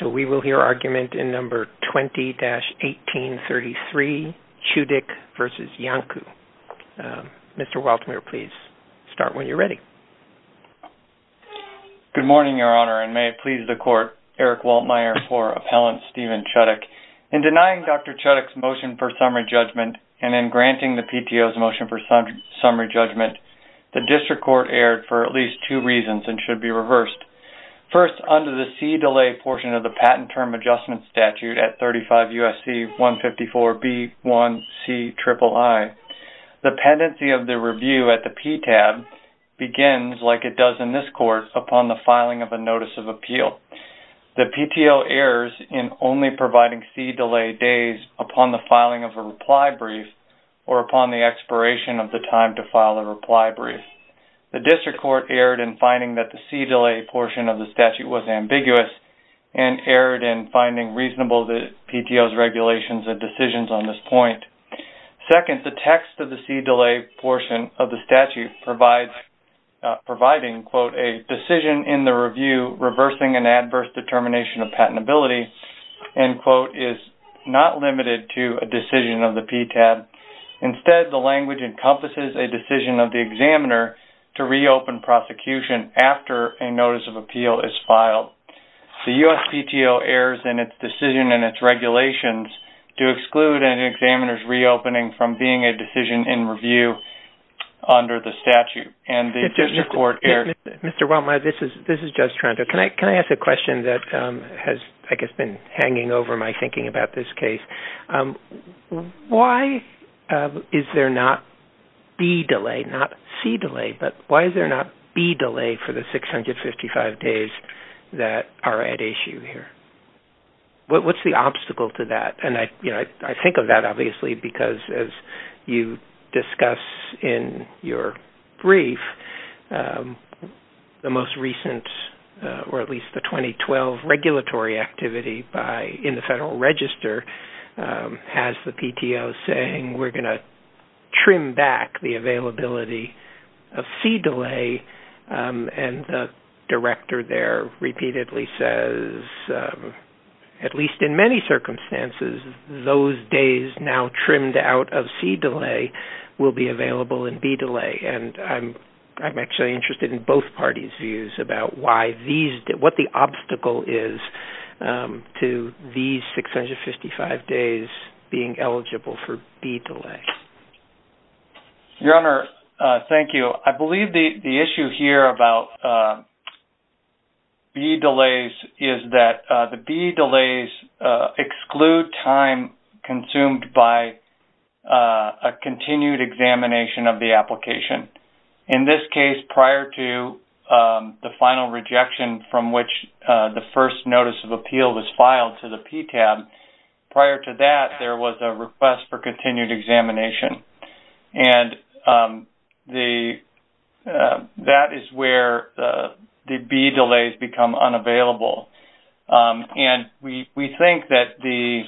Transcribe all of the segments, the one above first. So we will hear argument in No. 20-1833, Chudik v. Iancu. Mr. Waldmeier, please start when you're ready. Good morning, Your Honor, and may it please the Court, Eric Waldmeier for Appellant Stephen Chudik. In denying Dr. Chudik's motion for summary judgment and in granting the PTO's motion for summary judgment, the District Court erred for at least two reasons and should be reversed. First, under the C-delay portion of the Patent Term Adjustment Statute at 35 U.S.C. 154B1Ciii, the pendency of the review at the PTAB begins, like it does in this Court, upon the filing of a Notice of Appeal. The PTO errs in only providing C-delay days upon the filing of a reply brief or upon the expiration of the time to file a reply brief. The District Court erred in finding that the C-delay portion of the statute was ambiguous and erred in finding reasonable the PTO's regulations and decisions on this point. Second, the text of the C-delay portion of the statute provides, providing, quote, a decision in the review reversing an adverse determination of patentability, end quote, is not limited to a decision of the PTAB. Instead, the language encompasses a decision of the examiner to reopen prosecution after a Notice of Appeal is filed. The U.S. PTO errs in its decision and its regulations to exclude an examiner's reopening from being a decision in review under the statute, and the District Court erred. Mr. Welmeyer, this is Judge Toronto. Can I ask a question that has, I guess, been hanging over my thinking about this case? Why is there not B-delay, not C-delay, but why is there not B-delay for the 655 days that are at issue here? What's the obstacle to that? I think of that, obviously, because as you discuss in your brief, the most recent, or in the Federal Register, has the PTO saying, we're going to trim back the availability of C-delay, and the director there repeatedly says, at least in many circumstances, those days now trimmed out of C-delay will be available in B-delay, and I'm actually interested in both parties' views about what the obstacle is to these 655 days being eligible for B-delay. Your Honor, thank you. I believe the issue here about B-delays is that the B-delays exclude time consumed by a continued examination of the application. In this case, prior to the final rejection from which the first notice of appeal was filed to the PTAB, prior to that, there was a request for continued examination, and that is where the B-delays become unavailable. And we think that the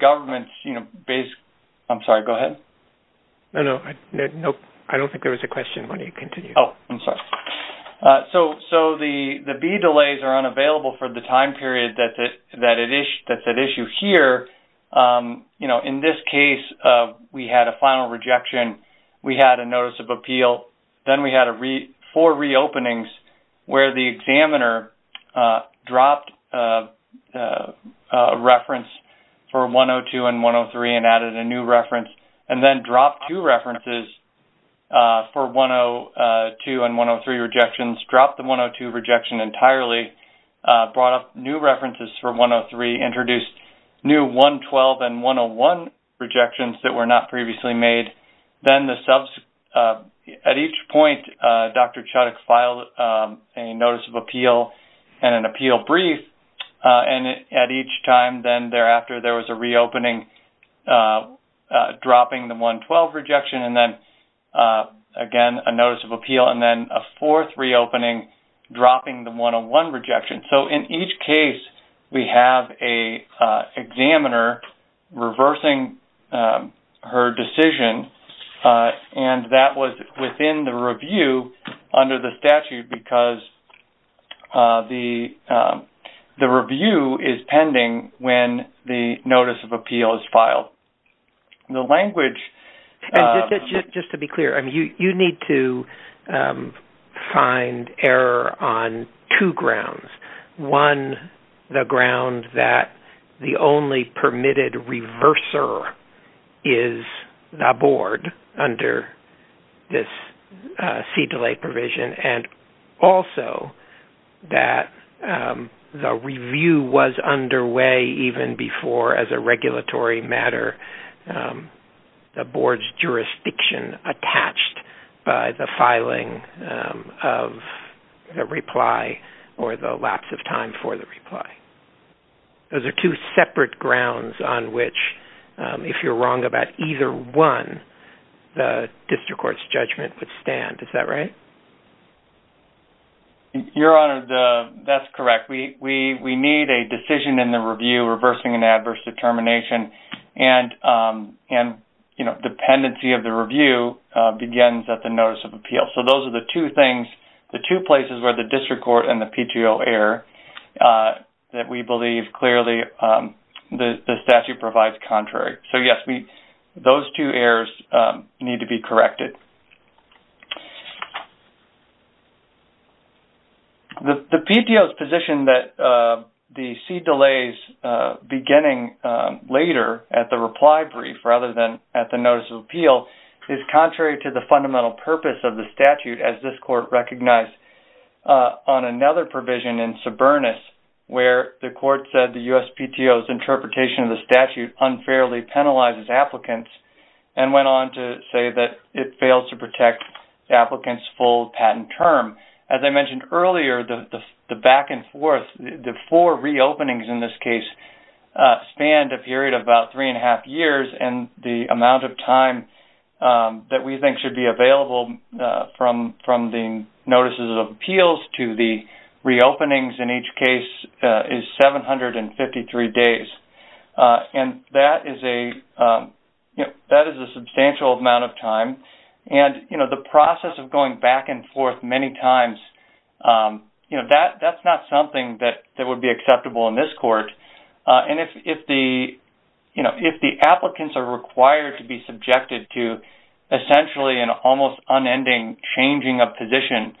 government's basic—I'm sorry, go ahead. No, no, I don't think there was a question. Why don't you continue? Oh, I'm sorry. So the B-delays are unavailable for the time period that's at issue here. In this case, we had a final rejection, we had a notice of appeal, then we had four reopenings where the examiner dropped a reference for 102 and 103 and added a new reference, and then dropped two references for 102 and 103 rejections, dropped the 102 rejection entirely, brought up new references for 103, introduced new 112 and 101 rejections that were not previously made. Then at each point, Dr. Chuttick filed a notice of appeal and an appeal brief, and at each time thereafter, there was a reopening, dropping the 112 rejection and then, again, a notice of appeal and then a fourth reopening, dropping the 101 rejection. So in each case, we have an examiner reversing her decision, and that was within the review under the statute because the review is pending when the notice of appeal is filed. The language— Just to be clear, you need to find error on two grounds. One, the ground that the only permitted reverser is the board under this C-delay provision, and also that the review was underway even before, as a regulatory matter, the board's jurisdiction attached by the filing of the reply or the lapse of time for the reply. Those are two separate grounds on which, if you're wrong about either one, the district court's judgment would stand. Is that right? Your Honor, that's correct. We need a decision in the review reversing an adverse determination, and dependency of the review begins at the notice of appeal. So those are the two things, the two places where the district court and the PTO error that we believe clearly the statute provides contrary. So, yes, those two errors need to be corrected. The PTO's position that the C-delays beginning later at the reply brief rather than at the notice of appeal is contrary to the fundamental purpose of the statute, as this court recognized on another provision in Sobernus, where the court said the US PTO's interpretation of and went on to say that it failed to protect the applicant's full patent term. As I mentioned earlier, the back and forth, the four reopenings in this case, spanned a period of about three and a half years, and the amount of time that we think should be available from the notices of appeals to the reopenings in each case is 753 days. And that is a substantial amount of time, and the process of going back and forth many times, that's not something that would be acceptable in this court. And if the applicants are required to be subjected to essentially an almost unending changing of position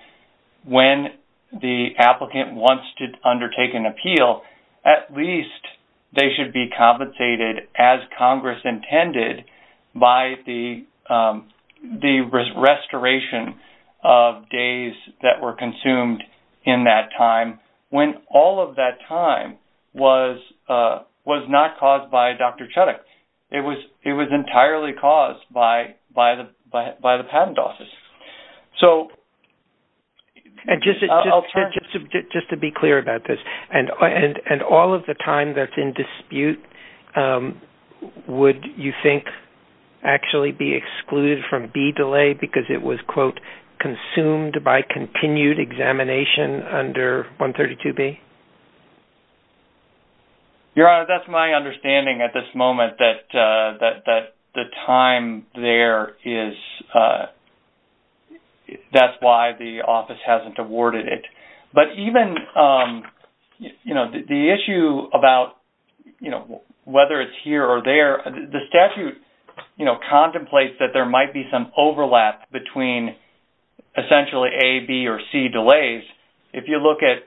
when the applicant wants to undertake an appeal, at least they should be compensated as Congress intended by the restoration of days that were consumed in that time, when all of that time was not caused by Dr. Chudok. It was entirely caused by the patent office. So... I'll turn. And just to be clear about this, and all of the time that's in dispute, would you think actually be excluded from B delay because it was, quote, consumed by continued examination under 132B? Your Honor, that's my understanding at this moment, that the time there is... That's why the office hasn't awarded it. But even, you know, the issue about, you know, whether it's here or there, the statute, you know, contemplates that there might be some overlap between essentially A, B, or C delays. If you look at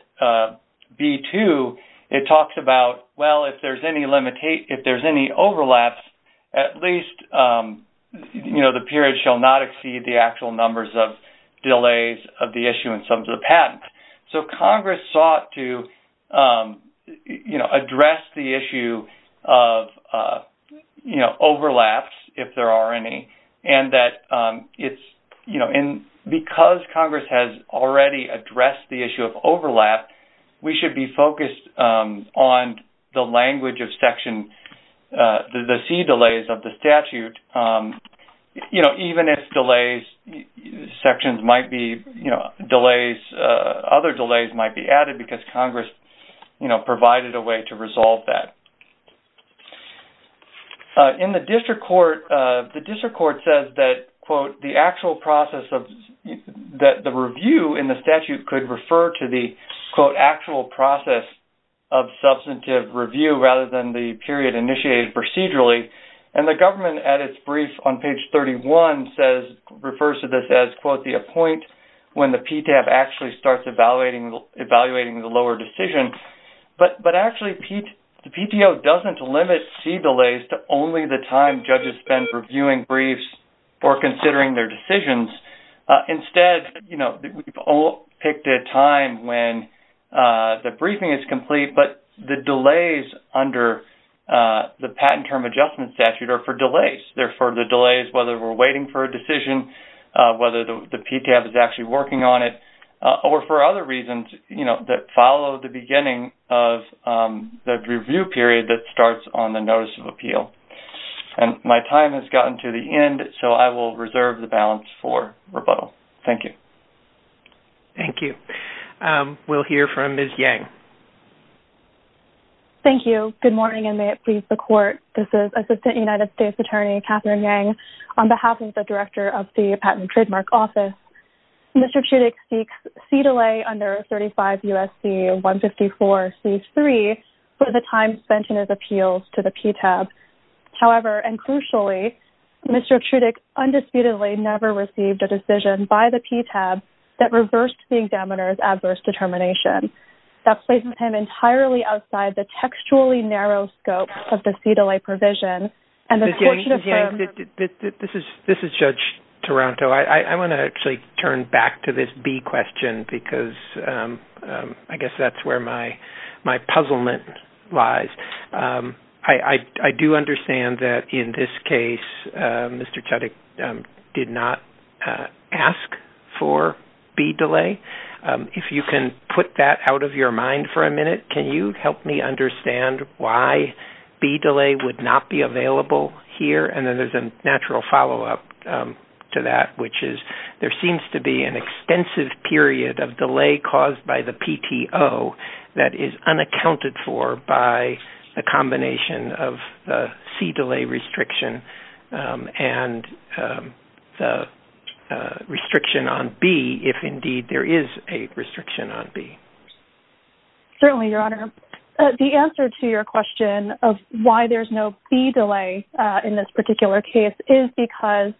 B2, it talks about, well, if there's any overlaps, at least, you know, the period shall not exceed the actual numbers of delays of the issue in terms of the patent. So Congress sought to, you know, address the issue of, you know, overlaps, if there are any. And that it's, you know, and because Congress has already addressed the issue of overlap, we should be focused on the language of section, the C delays of the statute, you know, even if delays, sections might be, you know, delays, other delays might be added because Congress, you know, provided a way to resolve that. In the district court, the district court says that, quote, the actual process of... That the review in the statute could refer to the, quote, actual process of substantive review rather than the period initiated procedurally. And the government at its brief on page 31 says, refers to this as, quote, the appoint when the PTAP actually starts evaluating the lower decision. But actually, the PTO doesn't limit C delays to only the time judges spend reviewing briefs or considering their decisions. Instead, you know, we've all picked a time when the briefing is complete, but the delays under the patent term adjustment statute are for delays. They're for the delays, whether we're waiting for a decision, whether the PTAP is actually working on it, or for other reasons, you know, that follow the beginning of the review period that starts on the notice of appeal. And my time has gotten to the end, so I will reserve the balance for rebuttal. Thank you. Thank you. We'll hear from Ms. Yang. Thank you. Good morning, and may it please the court. This is Assistant United States Attorney Catherine Yang on behalf of the Director of the Patent Trademark Office. Mr. Trudyk seeks C delay under 35 U.S.C. 154 C-3 for the time spent in his appeals to the PTAP. However, and crucially, Mr. Trudyk undisputedly never received a decision by the PTAP that reversed the examiner's adverse determination. That places him entirely outside the textually narrow scope of the C delay provision, and the court should affirm... Ms. Yang, Ms. Yang, this is Judge Taranto. So I want to actually turn back to this B question because I guess that's where my puzzlement lies. I do understand that in this case, Mr. Trudyk did not ask for B delay. If you can put that out of your mind for a minute, can you help me understand why B delay would not be available here? And then there's a natural follow-up to that, which is there seems to be an extensive period of delay caused by the PTO that is unaccounted for by the combination of the C delay restriction and the restriction on B, if indeed there is a restriction on B. Certainly, Your Honor. The answer to your question of why there's no B delay in this particular case is because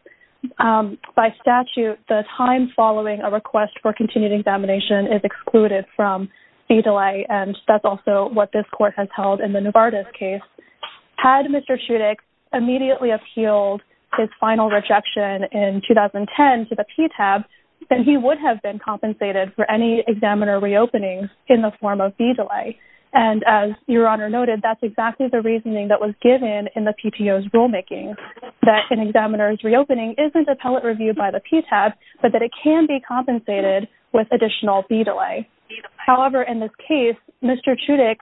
by statute, the time following a request for continued examination is excluded from B delay, and that's also what this court has held in the Novartis case. Had Mr. Trudyk immediately appealed his final rejection in 2010 to the PTAP, then he would have been compensated for any examiner reopening in the form of B delay. And as Your Honor noted, that's exactly the reasoning that was given in the PTO's rulemaking, that an examiner's reopening isn't appellate reviewed by the PTAP, but that it can be compensated with additional B delay. However, in this case, Mr. Trudyk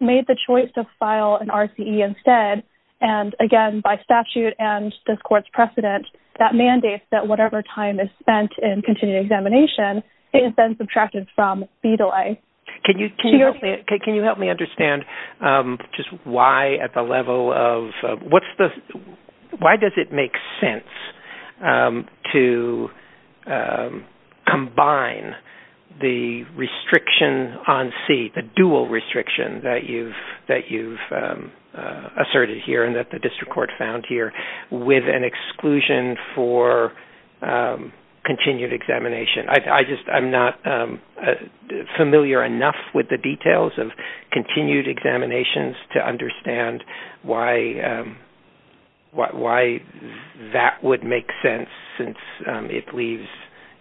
made the choice to file an RCE instead, and again, by statute and this court's precedent, that mandates that whatever time is spent in continued examination is then subtracted from B delay. Can you help me understand just why at the level of... Why does it make sense to combine the restriction on C, the dual restriction that you've asserted here and that the district court found here, with an exclusion for continued examination? I just... I'm not familiar enough with the details of continued examinations to understand why that would make sense since it leaves,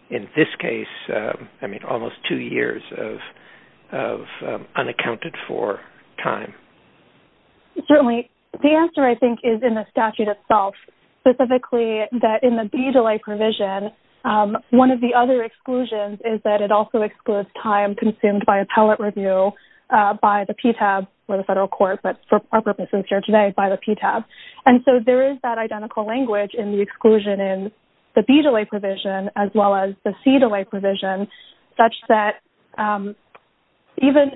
in this case, almost two years of unaccounted for time. Certainly. The answer, I think, is in the statute itself, specifically that in the B delay provision, one of the other exclusions is that it also excludes time consumed by appellate review by the PTAP or the federal court, but for our purposes here today, by the PTAP. And so there is that identical language in the exclusion in the B delay provision as well as the C delay provision such that even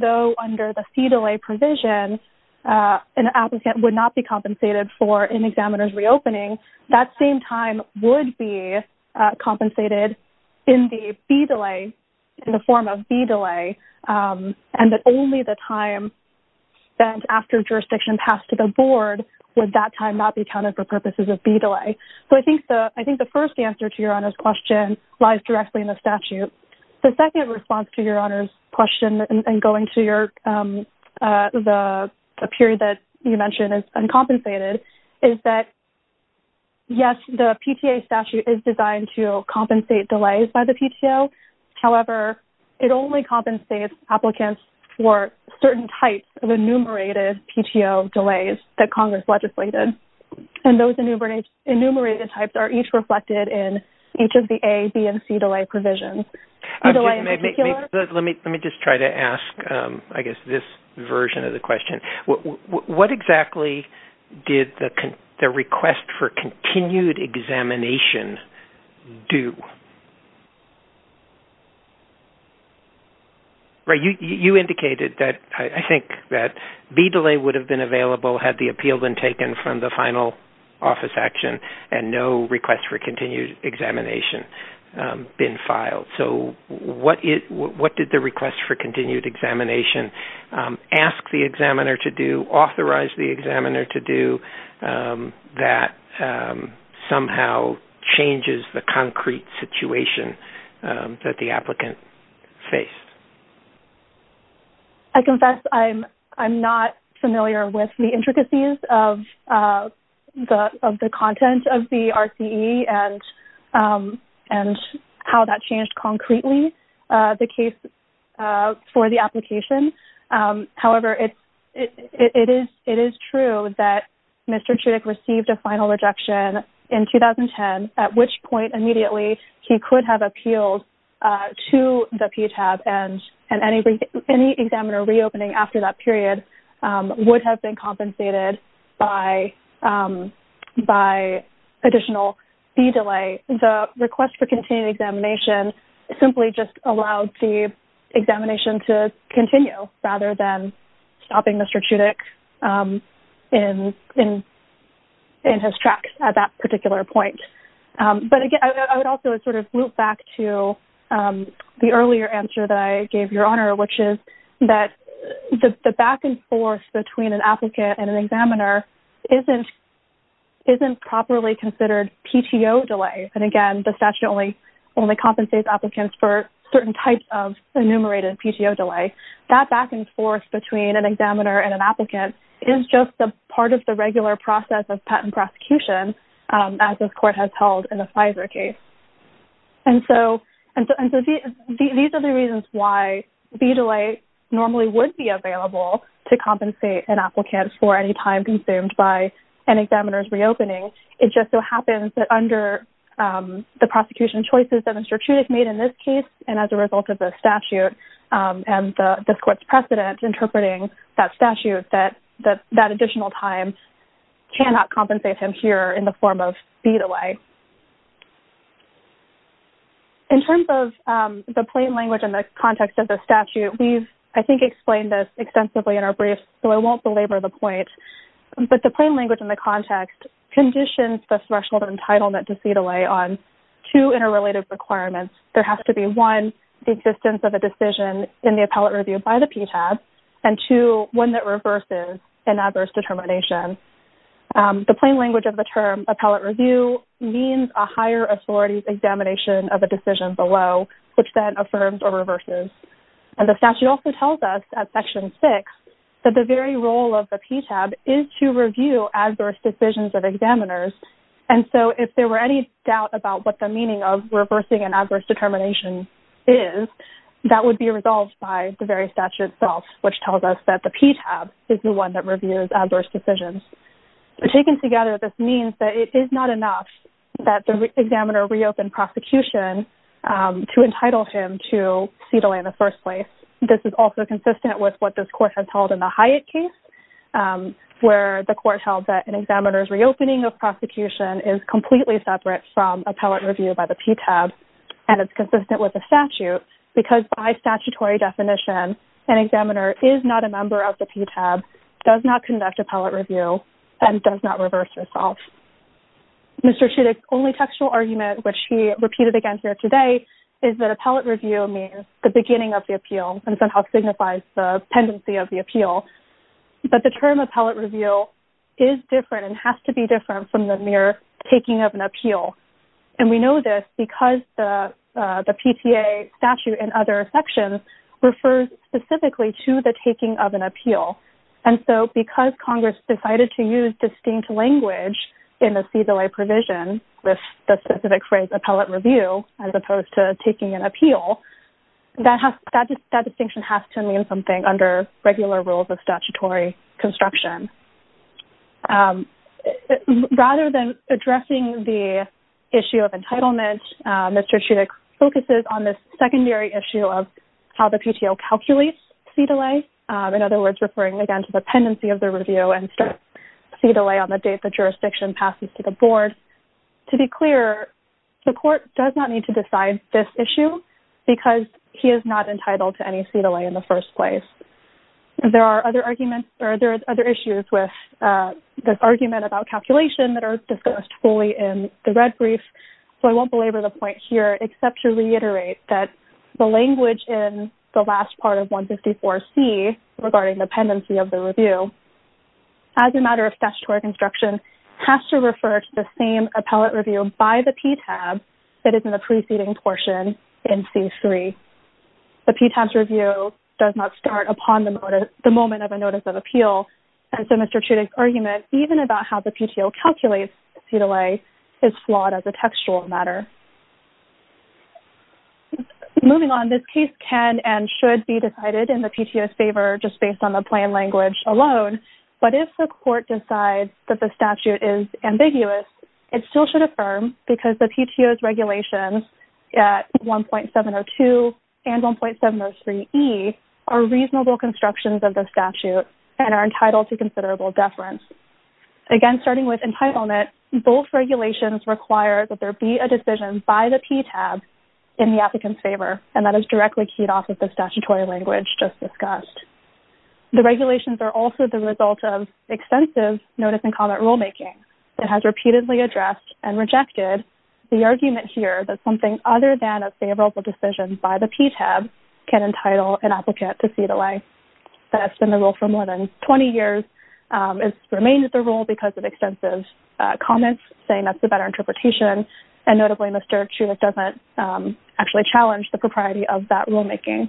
though under the C delay provision, an applicant would not be compensated for an examiner's reopening, that same time would be compensated in the B delay, in the form of B delay, and that only the time spent after jurisdiction passed to the board would that time not be counted for purposes of B delay. So I think the first answer to your honor's question lies directly in the statute. The second response to your honor's question and going to the period that you mentioned is uncompensated, is that yes, the PTA statute is designed to compensate delays by the PTO. However, it only compensates applicants for certain types of enumerated PTO delays that and those enumerated types are each reflected in each of the A, B, and C delay provisions. Let me just try to ask, I guess, this version of the question. What exactly did the request for continued examination do? You indicated that I think that B delay would have been available had the appeal been taken from the final office action and no request for continued examination been filed. So what did the request for continued examination ask the examiner to do, authorize the examiner to do, that somehow changes the concrete situation that the applicant faced? I confess I'm not familiar with the intricacies of the content of the RCE and how that changed concretely the case for the application. However, it is true that Mr. Chudik received a final rejection in 2010, at which point immediately he could have appealed to the PTAB and any examiner reopening after that period would have been compensated by additional B delay. The request for continued examination simply just allowed the examination to continue rather than stopping Mr. Chudik in his tracks at that particular point. But again, I would also sort of loop back to the earlier answer that I gave Your Honor, which is that the back and forth between an applicant and an examiner isn't properly considered PTO delay. And again, the statute only compensates applicants for certain types of enumerated PTO delay. That back and forth between an examiner and an applicant is just a part of the regular process of patent prosecution as this court has held in the Pfizer case. And so these are the reasons why B delay normally would be available to compensate an applicant for any time consumed by an examiner's reopening. It just so happens that under the prosecution choices that Mr. Chudik made in this case and as a result of the statute and this court's precedent interpreting that statute, that additional time cannot compensate him here in the form of B delay. In terms of the plain language and the context of the statute, we've, I think, explained this extensively in our brief, so I won't belabor the point, but the plain language and the context conditions the threshold entitlement to C delay on two interrelated requirements. There has to be one, the existence of a decision in the appellate review by the PTAS, and two, one that reverses an adverse determination. The plain language of the term appellate review means a higher authority's examination of a decision below, which then affirms or reverses. And the statute also tells us at Section 6 that the very role of the PTAB is to review adverse decisions of examiners. And so if there were any doubt about what the meaning of reversing an adverse determination is, that would be resolved by the very statute itself, which tells us that the PTAS is the one that reviews adverse decisions. Taken together, this means that it is not enough that the examiner reopened prosecution to entitle him to C delay in the first place. This is also consistent with what this court has held in the Hyatt case, where the court held that an examiner's reopening of prosecution is completely separate from appellate review by the PTAS, and it's consistent with the statute, because by statutory definition, an examiner is not a member of the PTAS, does not conduct appellate review, and does not reverse itself. Mr. Chudik's only textual argument, which he repeated again here today, is that appellate review means the beginning of the appeal and somehow signifies the tendency of the appeal. But the term appellate review is different and has to be different from the mere taking of an appeal. And we know this because the PTA statute in other sections refers specifically to the taking of an appeal. And so because Congress decided to use distinct language in the C delay provision with the specific phrase appellate review, as opposed to taking an appeal, that distinction has to mean something under regular rules of statutory construction. Rather than addressing the issue of entitlement, Mr. Chudik focuses on this secondary issue of how the PTO calculates C delay, in other words, referring again to the pendency of the review and C delay on the date the jurisdiction passes to the board. To be clear, the court does not need to decide this issue, because he is not entitled to any C delay in the first place. There are other arguments or there are other issues with this argument about calculation that are discussed fully in the red brief, so I won't belabor the point here except to reiterate that the language in the last part of 154C regarding the pendency of the review, as a matter of statutory construction, has to refer to the same appellate review by the PTAB that is in the preceding portion in C3. The PTAB's review does not start upon the moment of a notice of appeal, and so Mr. Chudik's argument, even about how the PTO calculates C delay, is flawed as a textual matter. Moving on, this case can and should be decided in the PTO's favor just based on the plain language alone, but if the court decides that the statute is ambiguous, it still should The regulations at 1.702 and 1.703E are reasonable constructions of the statute and are entitled to considerable deference. Again, starting with entitlement, both regulations require that there be a decision by the PTAB in the applicant's favor, and that is directly keyed off of the statutory language just discussed. The regulations are also the result of extensive notice and comment rulemaking that has repeatedly addressed and rejected the argument here that something other than a favorable decision by the PTAB can entitle an applicant to C delay. That has been the rule for more than 20 years, and it's remained the rule because of extensive comments saying that's a better interpretation, and notably Mr. Chudik doesn't actually challenge the propriety of that rulemaking.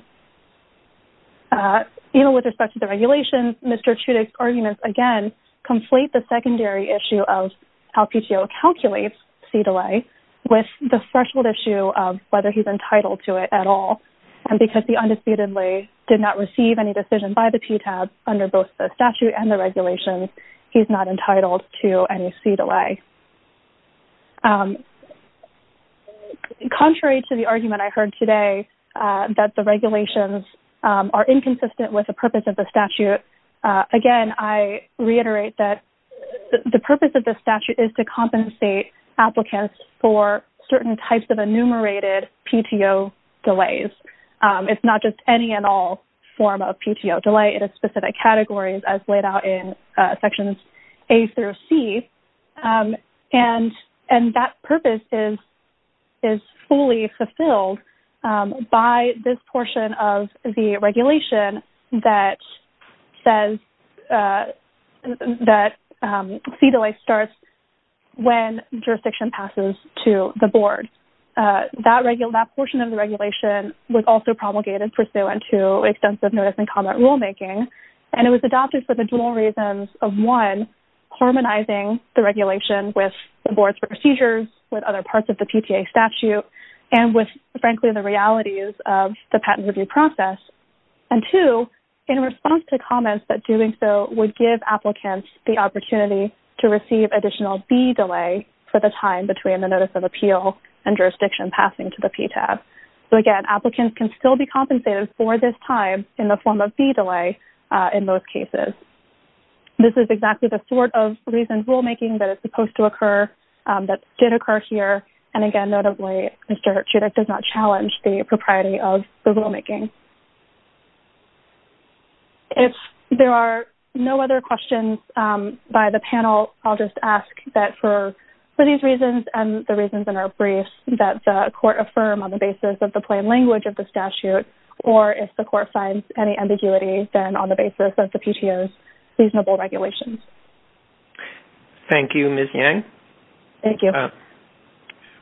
Even with respect to the regulations, Mr. Chudik's arguments, again, conflate the secondary issue of how PTO calculates C delay with the threshold issue of whether he's entitled to it at all, and because he undisputedly did not receive any decision by the PTAB under both the statute and the regulations, he's not entitled to any C delay. Contrary to the argument I heard today that the regulations are inconsistent with the statute, again, I reiterate that the purpose of the statute is to compensate applicants for certain types of enumerated PTO delays. It's not just any and all form of PTO delay. It is specific categories as laid out in sections A through C, and that purpose is fully fulfilled by this portion of the regulation that says that C delay starts when jurisdiction passes to the board. That portion of the regulation was also promulgated pursuant to extensive notice and comment rulemaking, and it was adopted for the dual reasons of, one, harmonizing the regulation with the board's procedures, with other parts of the PTA statute, and with, frankly, the realities of the patent review process, and, two, in response to comments that doing so would give applicants the opportunity to receive additional B delay for the time between the notice of appeal and jurisdiction passing to the PTAB. So, again, applicants can still be compensated for this time in the form of B delay in most cases. This is exactly the sort of reasons rulemaking that is supposed to occur that did occur here, and again, notably, Mr. Chudik does not challenge the propriety of the rulemaking. If there are no other questions by the panel, I'll just ask that for these reasons and the reasons in our briefs that the court affirm on the basis of the plain language of the reasonable regulations. Thank you, Ms. Yang. Thank you.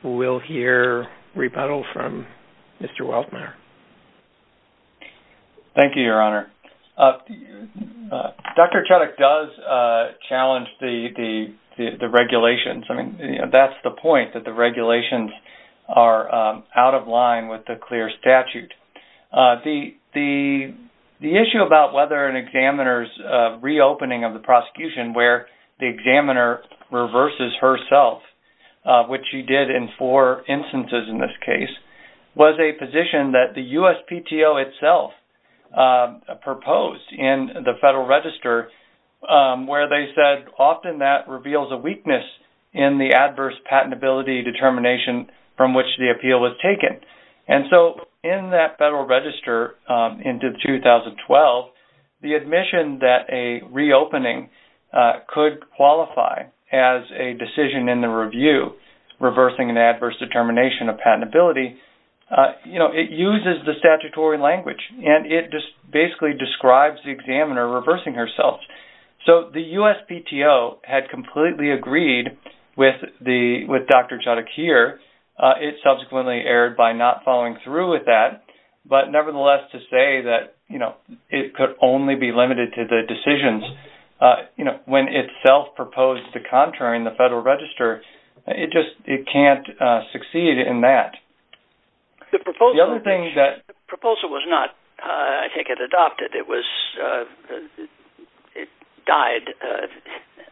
We'll hear rebuttal from Mr. Weltzner. Thank you, Your Honor. Dr. Chudik does challenge the regulations. I mean, that's the point, that the regulations are out of line with the clear statute. The issue about whether an examiner's reopening of the prosecution where the examiner reverses herself, which she did in four instances in this case, was a position that the USPTO itself proposed in the Federal Register where they said often that reveals a weakness in the adverse patentability determination from which the appeal was taken. In that Federal Register into 2012, the admission that a reopening could qualify as a decision in the review reversing an adverse determination of patentability, it uses the statutory language and it just basically describes the examiner reversing herself. So the USPTO had completely agreed with Dr. Chudik here. It subsequently erred by not following through with that. But nevertheless, to say that it could only be limited to the decisions when it self-proposed to contrary in the Federal Register, it just can't succeed in that. The proposal was not, I think, adopted. It died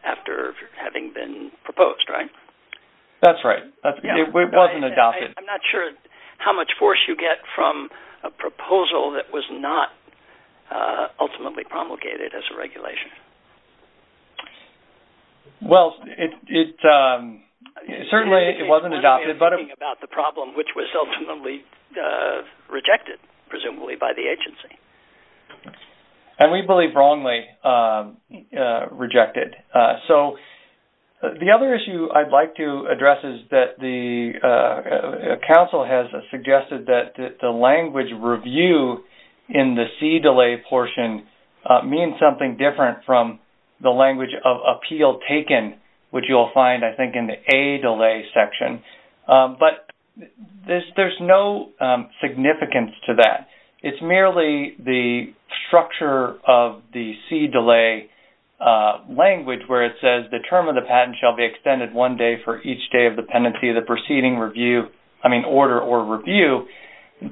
after having been proposed, right? That's right. It wasn't adopted. I'm not sure how much force you get from a proposal that was not ultimately promulgated as a regulation. Well, certainly it wasn't adopted, but... You're talking about the problem which was ultimately rejected, presumably, by the agency. And we believe wrongly rejected. So the other issue I'd like to address is that the Council has suggested that the language review in the C-delay portion means something different from the language of appeal taken, which you'll find, I think, in the A-delay section. But there's no significance to that. It's merely the structure of the C-delay language, where it says the term of the patent shall be extended one day for each day of the pendency of the proceeding order or review.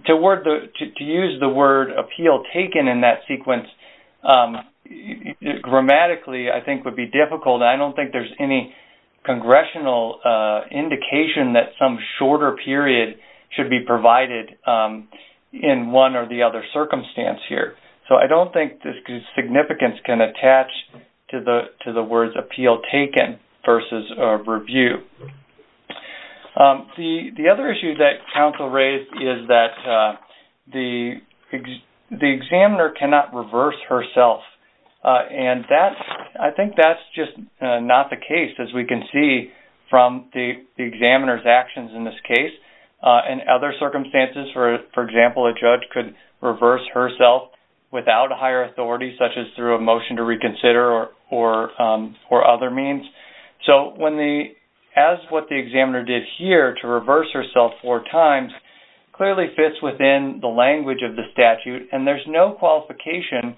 To use the word appeal taken in that sequence grammatically, I think, would be difficult. I don't think there's any congressional indication that some shorter period should be provided in one or the other circumstance here. So I don't think this significance can attach to the words appeal taken versus review. The other issue that Council raised is that the examiner cannot reverse herself. And I think that's just not the case, as we can see from the examiner's actions in this case. In other circumstances, for example, a judge could reverse herself without higher authority, such as through a motion to reconsider or other means. So as what the examiner did here to reverse herself four times clearly fits within the language of the statute. And there's no qualification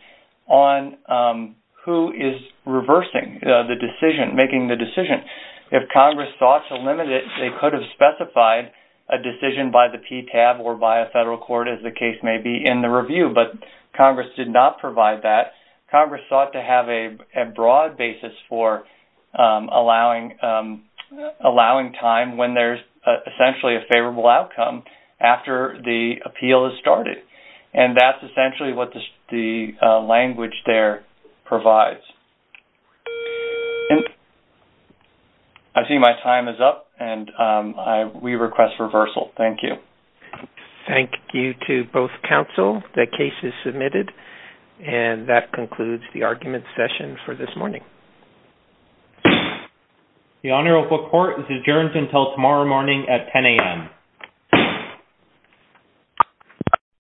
on who is reversing the decision, making the decision. If Congress sought to limit it, they could have specified a decision by the PTAB or by a federal court, as the case may be, in the review. But Congress did not provide that. Congress sought to have a broad basis for allowing time when there's essentially a favorable outcome after the appeal is started. And that's essentially what the language there provides. I see my time is up, and we request reversal. Thank you. Thank you to both Council. The case is submitted. And that concludes the argument session for this morning. The Honorable Court is adjourned until tomorrow morning at 10 a.m.